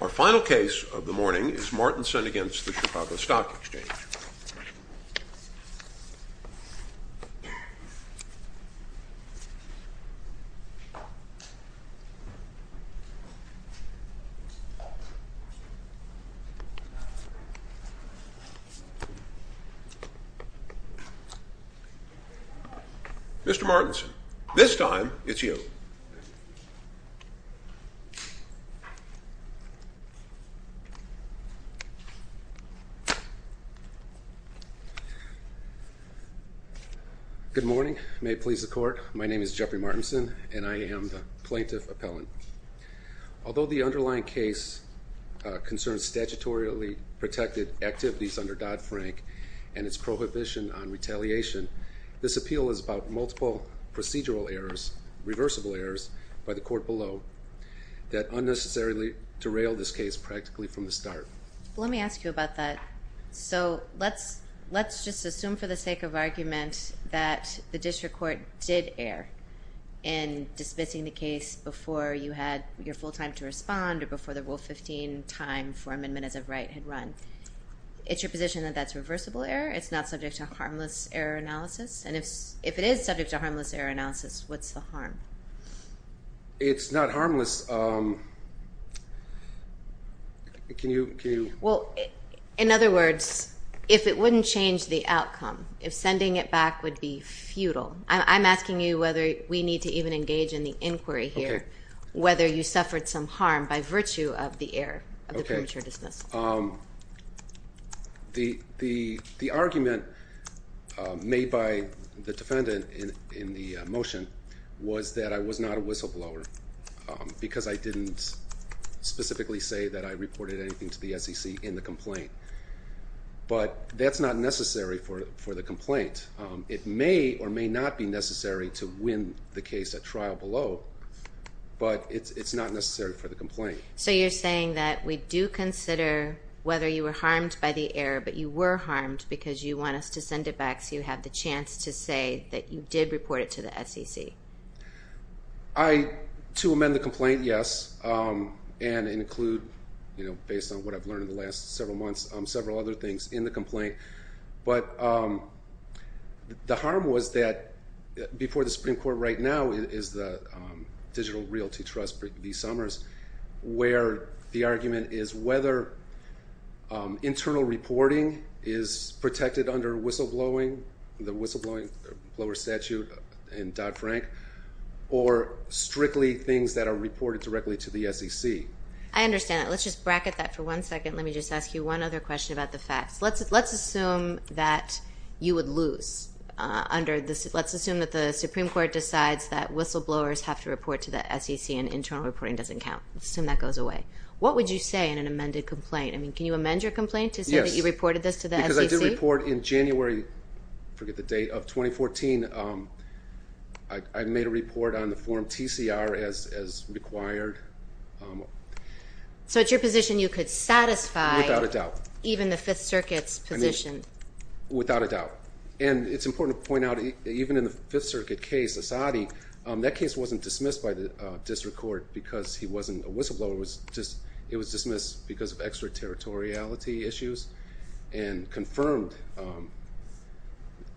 Our final case of the morning is Martensen v. Chicago Stock Exchange. Mr. Martensen, this time it's you. Good morning. May it please the court, my name is Jeffrey Martensen, and I am the plaintiff appellant. Although the underlying case concerns statutorily protected activities under Dodd-Frank and its prohibition on retaliation, this appeal is about multiple procedural errors, reversible that unnecessarily derail this case practically from the start. Well, let me ask you about that. So let's just assume for the sake of argument that the district court did err in dismissing the case before you had your full time to respond or before the Rule 15 time for amendment as of right had run. Is your position that that's reversible error? It's not subject to harmless error analysis? And if it is subject to harmless error analysis, what's the harm? It's not harmless. Can you? Well, in other words, if it wouldn't change the outcome, if sending it back would be futile. I'm asking you whether we need to even engage in the inquiry here, whether you suffered some harm by virtue of the error of the premature dismiss. The argument made by the defendant in the motion was that I was not a whistleblower because I didn't specifically say that I reported anything to the SEC in the complaint. But that's not necessary for the complaint. It may or may not be necessary to win the case at trial below, but it's not necessary for the complaint. So you're saying that we do consider whether you were harmed by the error, but you were harmed because you want us to send it back so you have the chance to say that you did report it to the SEC? I, to amend the complaint, yes. And include, you know, based on what I've learned in the last several months, several other things in the complaint. But the harm was that before the Supreme Court right now is the Digital Realty Trust, B. Summers, where the argument is whether internal reporting is protected under whistleblowing, the whistleblower statute in Dodd-Frank, or strictly things that are reported directly to the SEC. I understand that. Let's just bracket that for one second. Let me just ask you one other question about the facts. Let's assume that you would lose under, let's assume that the Supreme Court decides that whistleblowers have to report to the SEC and internal reporting doesn't count. Let's assume that goes away. What would you say in an amended complaint? I mean, can you amend your complaint to say that you reported this to the SEC? Because I did report in January, I forget the date, of 2014. I made a report on the form TCR as required. So it's your Fifth Circuit's position. Without a doubt. And it's important to point out, even in the Fifth Circuit case, Asadi, that case wasn't dismissed by the District Court because he wasn't a whistleblower. It was dismissed because of extraterritoriality issues and confirmed,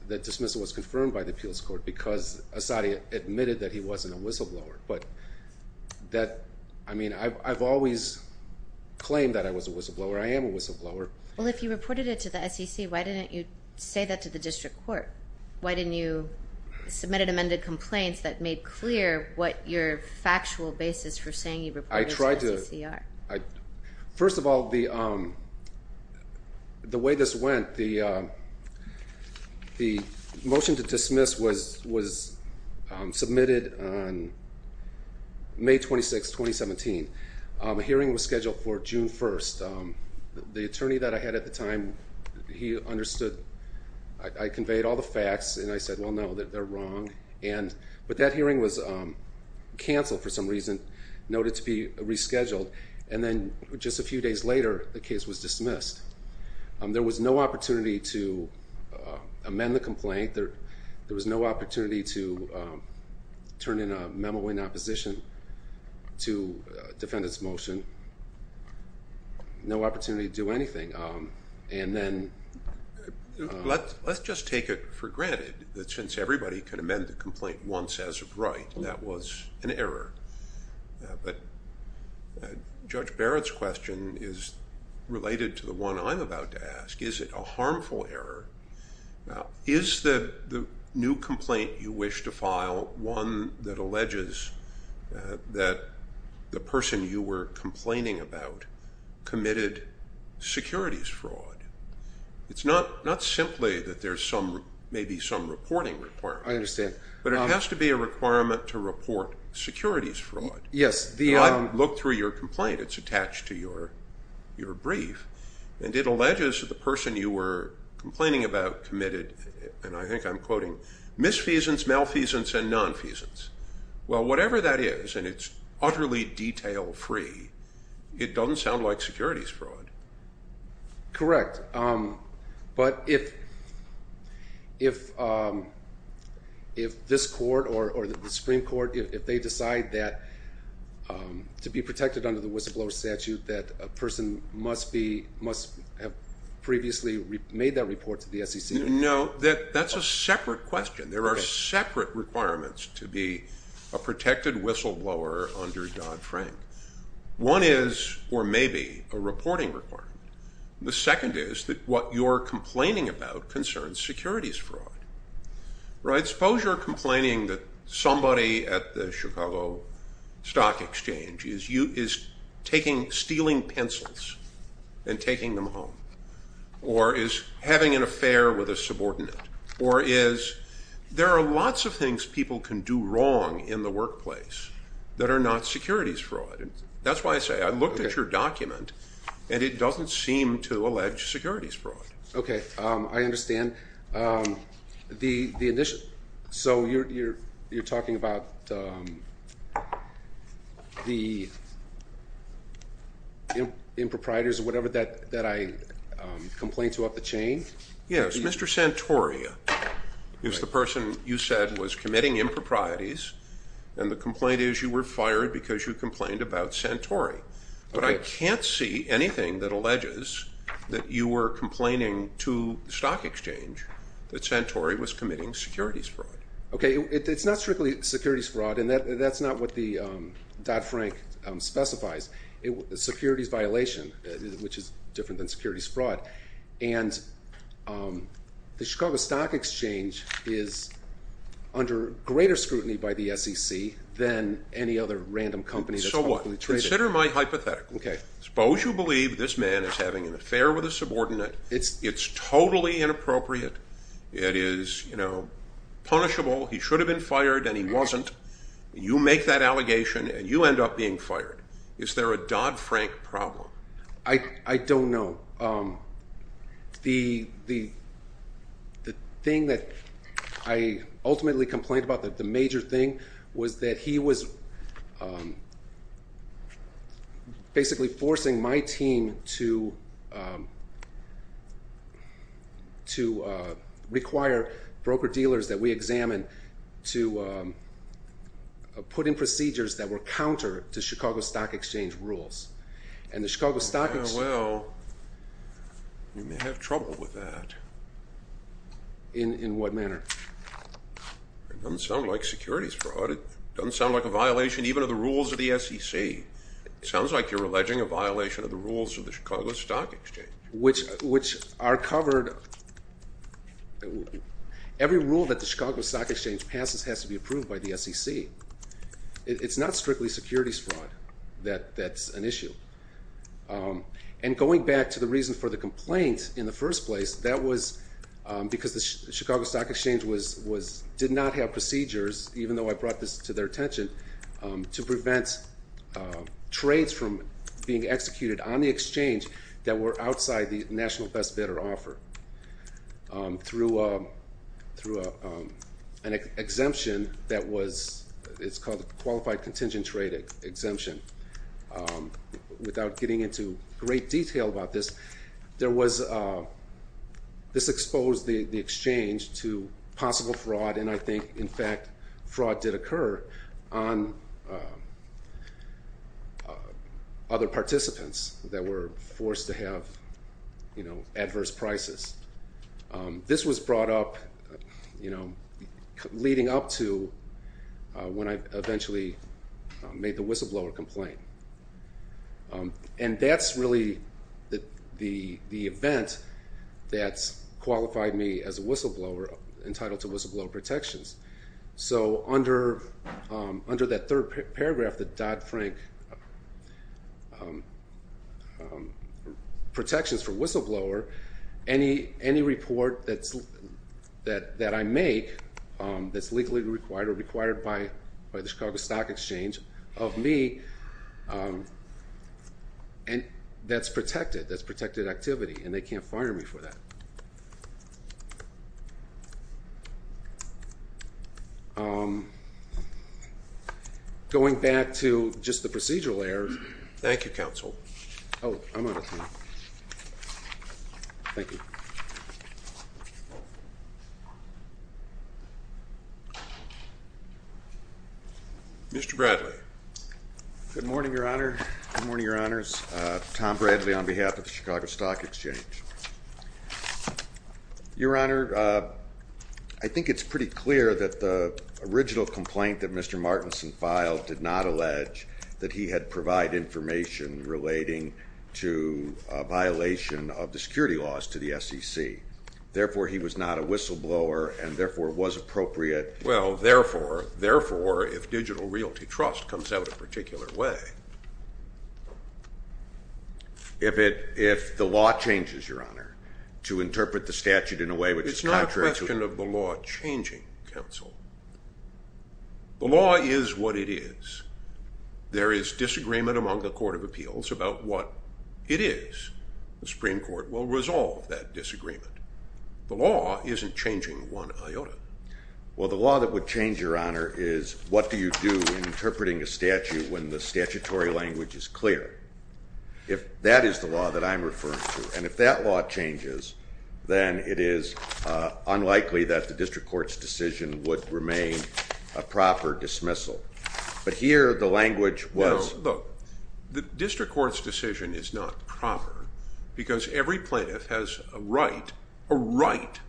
that dismissal was confirmed by the Appeals Court because Asadi admitted that he wasn't a whistleblower. But that, I mean, I've always claimed that I was a whistleblower. I am a whistleblower. Well, if you reported it to the SEC, why didn't you say that to the District Court? Why didn't you submit an amended complaint that made clear what your factual basis for saying you reported it to the SEC are? First of all, the way this went, the motion to dismiss was submitted on May 26, 2017. A hearing was scheduled for the attorney that I had at the time, he understood, I conveyed all the facts and I said, well no, they're wrong. But that hearing was canceled for some reason, noted to be rescheduled, and then just a few days later, the case was dismissed. There was no opportunity to amend the complaint. There was no opportunity to turn in a memo in And then let's just take it for granted that since everybody can amend the complaint once as of right, that was an error. But Judge Barrett's question is related to the one I'm about to ask. Is it a harmful error? Is the new complaint you wish to file one that alleges that the person you were complaining about committed securities fraud? It's not simply that there's maybe some reporting requirement. I understand. But it has to be a requirement to report securities fraud. Yes. I've looked through your complaint, it's attached to your brief, and it alleges that the person you were Well, whatever that is, and it's utterly detail-free, it doesn't sound like securities fraud. Correct. But if this court or the Supreme Court, if they decide that to be protected under the whistleblower statute, that a person must have previously made that report to the SEC. No, that's a separate question. There are separate requirements to be a protected whistleblower under Dodd-Frank. One is, or maybe, a reporting requirement. The second is that what you're complaining about concerns securities fraud. Suppose you're complaining that somebody at the Chicago Stock Exchange is stealing pencils and taking them home, or is having an affair with a subordinate, or is, there are lots of things people can do wrong in the workplace that are not securities fraud. That's why I say I looked at your document, and it doesn't seem to allege securities fraud. Okay, I understand. So you're talking about the improprietors or whatever that I complained to up the chain? Yes, Mr. Santoria is the person you said was committing improprieties, and the complaint is you were fired because you complained about Santori. But I can't see anything that alleges that you were complaining to the Stock Exchange that Santori was committing securities fraud. Okay, it's not strictly securities fraud, and that's not what the Dodd-Frank specifies. It was securities violation, which is different than securities fraud. And the Chicago Stock Exchange is under greater scrutiny by the SEC than any other random company. So what? Consider my hypothetical. Okay. Suppose you believe this man is having an affair with a subordinate. It's totally inappropriate. It is punishable. He should have been fired, and he wasn't. You make that allegation, and you end up being fired. Is there a Dodd-Frank problem? I don't know. The thing that I ultimately complained about, the major thing, was that he was basically forcing my team to require broker-dealers that we examined to put in procedures that were counter to Chicago Stock Exchange rules. Well, you may have trouble with that. In what manner? It doesn't sound like securities fraud. It doesn't sound like a violation even of the rules of the SEC. It sounds like you're alleging a violation of Chicago Stock Exchange. Which are covered, every rule that the Chicago Stock Exchange passes has to be approved by the SEC. It's not strictly securities fraud that's an issue. And going back to the reason for the complaint in the first place, that was because the Chicago Stock Exchange did not have procedures, even though I brought this to their attention, to the National Best Bidder offer. Through an exemption that was, it's called Qualified Contingent Trade Exemption. Without getting into great detail about this, this exposed the exchange to possible fraud, and I think, in fact, fraud did occur on other participants that were forced to have, you know, adverse prices. This was brought up, you know, leading up to when I eventually made the whistleblower complaint. And that's really the event that qualified me as a whistleblower entitled to whistleblower protections. So under that third paragraph, the Dodd-Frank protections for whistleblower, any report that I make that's legally required or required by the Chicago Stock Exchange of me, that's protected. That's protected activity, and they can't fire me for that. Going back to just the procedural errors. Thank you, Counsel. Oh, I'm out of time. Thank you. Mr. Bradley. Good morning, Your Honor. Good morning, Your Honors. Tom Bradley on behalf of the Chicago Stock Exchange. Your Honor, I think it's pretty clear that the original complaint that Mr. Martinson filed did not allege that he had provided information relating to a violation of the security laws to the SEC. Therefore, he was not a whistleblower and, therefore, was appropriate. Well, therefore, if Digital Realty Trust comes out a particular way... If the law changes, Your Honor, to interpret the statute in a way which is contrary to... It's not a question of the law changing, Counsel. The law is what it is. There is disagreement among the Court of Appeals about what it is. The Supreme Court will resolve that disagreement. The law isn't changing one iota. Well, the law that would change, Your Honor, is what do you do in interpreting a statute when the statutory language is clear. If that is the law that I'm referring to, and if that law changes, then it is unlikely that the district court's decision would remain a proper dismissal. But here, the language was... No, look. The district court's decision is not proper because every plaintiff has a right, a right,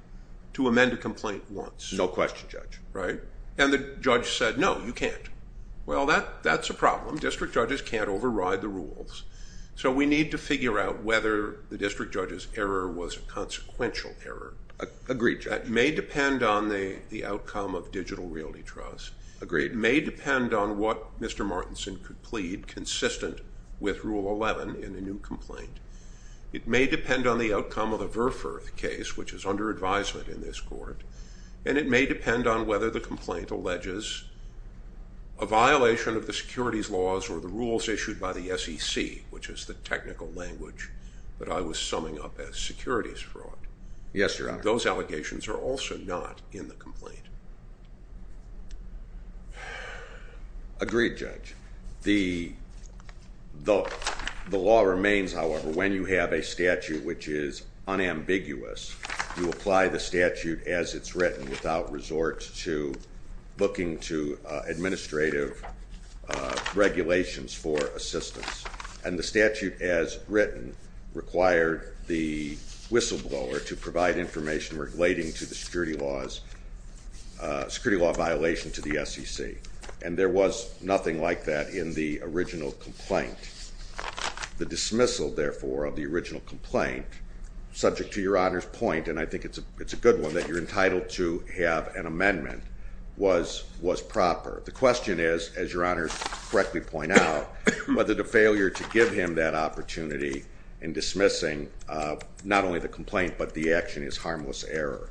to amend a complaint once. No question, Judge. Right? And the judge said, no, you can't. Well, that's a problem. District judges can't override the rules. So we need to figure out whether the district judge's error was a consequential error. Agreed, Judge. It may depend on the outcome of Digital Realty Trust. Agreed. It may depend on what Mr. Martinson could plead consistent with Rule 11 in a new complaint. It may depend on the outcome of the Verfurth case, which is under advisement in this court. And it may depend on whether the complaint alleges a violation of the securities laws or the rules issued by the SEC, which is the technical language that I was summing up as securities fraud. Yes, Your Honor. Those allegations are also not in the complaint. Agreed, Judge. The law remains, however, when you have a statute which is unambiguous. You apply the statute as it's written without resort to looking to administrative regulations for assistance. And the statute as written required the whistleblower to provide information relating to the security laws, security law violation to the SEC. And there was nothing like that in the original complaint. The dismissal, therefore, of the original complaint, subject to Your Honor's point, and I think it's a good one, that you're entitled to have an amendment, was proper. The question is, as Your Honor correctly pointed out, whether the failure to give him that opportunity in dismissing not only the complaint but the action is harmless error.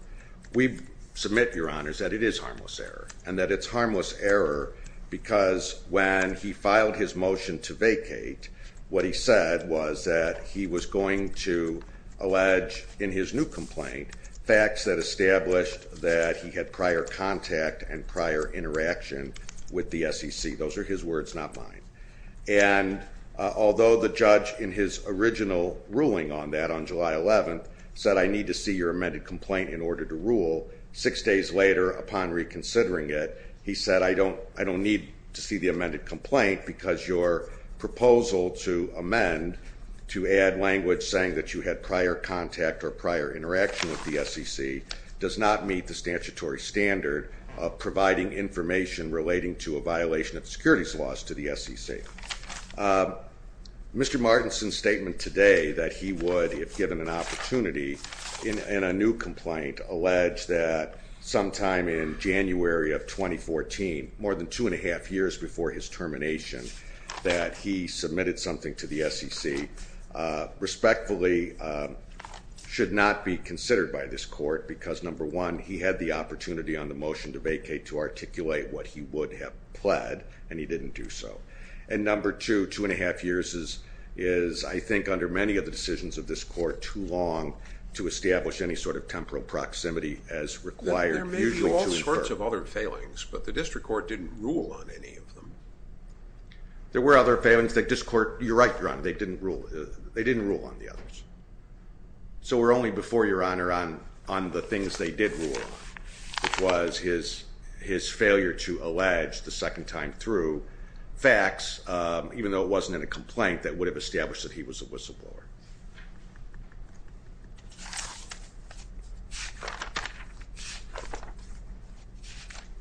We submit, Your Honors, that it is harmless error. And that it's harmless error because when he filed his motion to vacate, what he said was that he was going to allege in his new complaint facts that established that he had prior contact and prior interaction with the SEC. Those are his words, not mine. And although the judge in his original ruling on that on July 11th said, I need to see your amended complaint in order to rule, six days later upon reconsidering it, he said, I don't need to see the amended complaint because your proposal to amend to add language saying that you had prior contact or prior interaction with the SEC does not meet the statutory standard of providing information relating to a violation of securities laws to the SEC. Mr. Martinson's statement today that he would, if given an opportunity in a new complaint, allege that sometime in January of 2014, more than two and a half years before his termination, that he submitted something to the SEC, respectfully, should not be considered by this court because number one, he had the opportunity on the motion to vacate to articulate what he would have pled, and he didn't do so. And number two, two and a half years is, I think, under many of the decisions of this court, too long to establish any sort of temporal proximity as required. There may be all sorts of other failings, but the district court didn't rule on any of them. There were other failings that this court, you're right, Your Honor, they didn't rule on the others. So we're only before, Your Honor, on the things they did rule on, which was his failure to allege the second time through facts, even though it wasn't in a complaint that would have established that he was a whistleblower.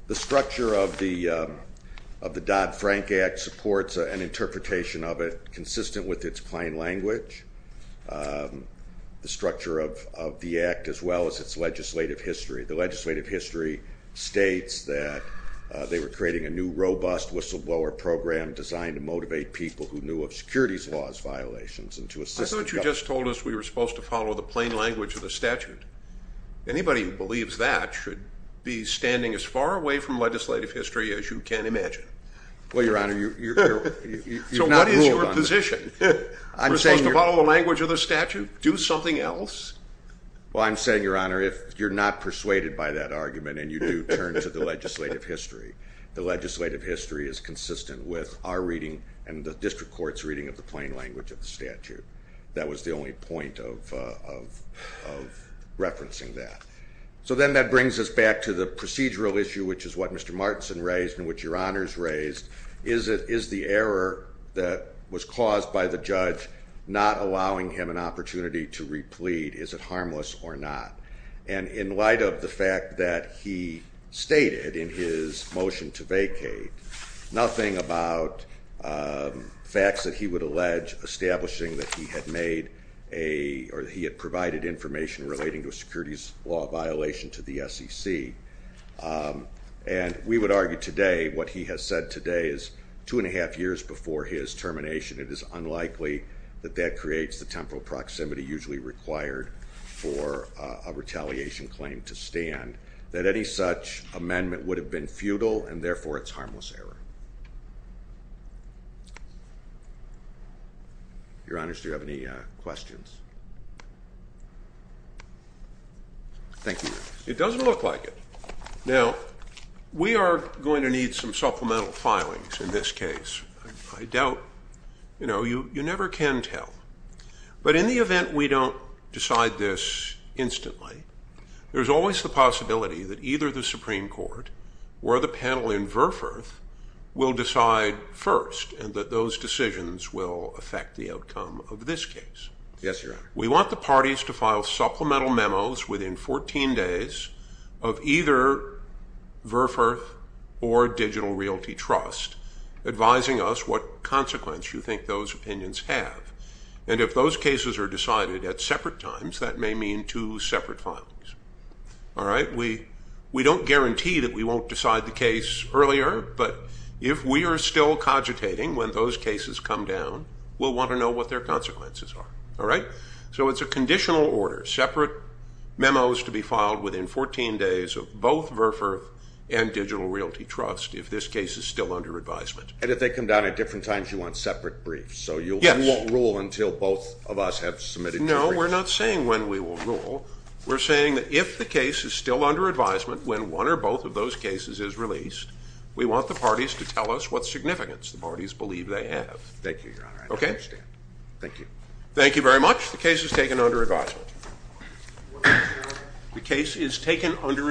The structure of the Dodd-Frank Act supports an interpretation of it consistent with its plain language. The structure of the Act as well as its legislative history. The legislative history states that they were creating a new robust whistleblower program designed to motivate people who knew of securities laws violations and to assist the government. I thought you just told us we were supposed to follow the plain language of the statute. Anybody who believes that should be standing as far away from legislative history as you can imagine. Well, Your Honor, you've not ruled on that. So what is your position? We're supposed to follow the language of the statute? Do something else? Well, I'm saying, Your Honor, if you're not persuaded by that argument and you do turn to the legislative history, the legislative history is consistent with our reading and the district court's reading of the plain language of the statute. That was the only point of referencing that. So then that brings us back to the procedural issue, which is what Mr. Martinson raised and which Your Honor has raised. Is the error that was caused by the judge not allowing him an opportunity to replead, is it harmless or not? And in light of the fact that he stated in his motion to vacate nothing about facts that he would allege establishing that he had provided information relating to a securities law violation to the SEC. And we would argue today what he has said today is two and a half years before his termination, it is unlikely that that creates the temporal proximity usually required for a retaliation claim to stand, that any such amendment would have been futile and therefore it's harmless error. Your Honors, do you have any questions? Thank you. It doesn't look like it. Now, we are going to need some supplemental filings in this case. I doubt, you know, you never can tell. But in the event we don't decide this instantly, there's always the possibility that either the Supreme Court or the panel in Verfurth will decide first and that those decisions will affect the outcome of this case. Yes, Your Honor. We want the parties to file supplemental memos within 14 days of either Verfurth or Digital Realty Trust advising us what consequence you think those opinions have. And if those cases are decided at separate times, that may mean two separate filings. All right? We don't guarantee that we won't decide the case earlier, but if we are still cogitating when those cases come down, we'll want to know what their consequences are. All right? So it's a conditional order, separate memos to be filed within 14 days of both Verfurth and Digital Realty Trust if this case is still under advisement. And if they come down at different times, you want separate briefs? Yes. So you won't rule until both of us have submitted two briefs? No, we're not saying when we will rule. We're saying that if the case is still under advisement, when one or both of those cases is released, we want the parties to tell us what significance the parties believe they have. Thank you, Your Honor. Okay? I understand. Thank you. Thank you very much. The case is taken under advisement. The case is taken under advisement.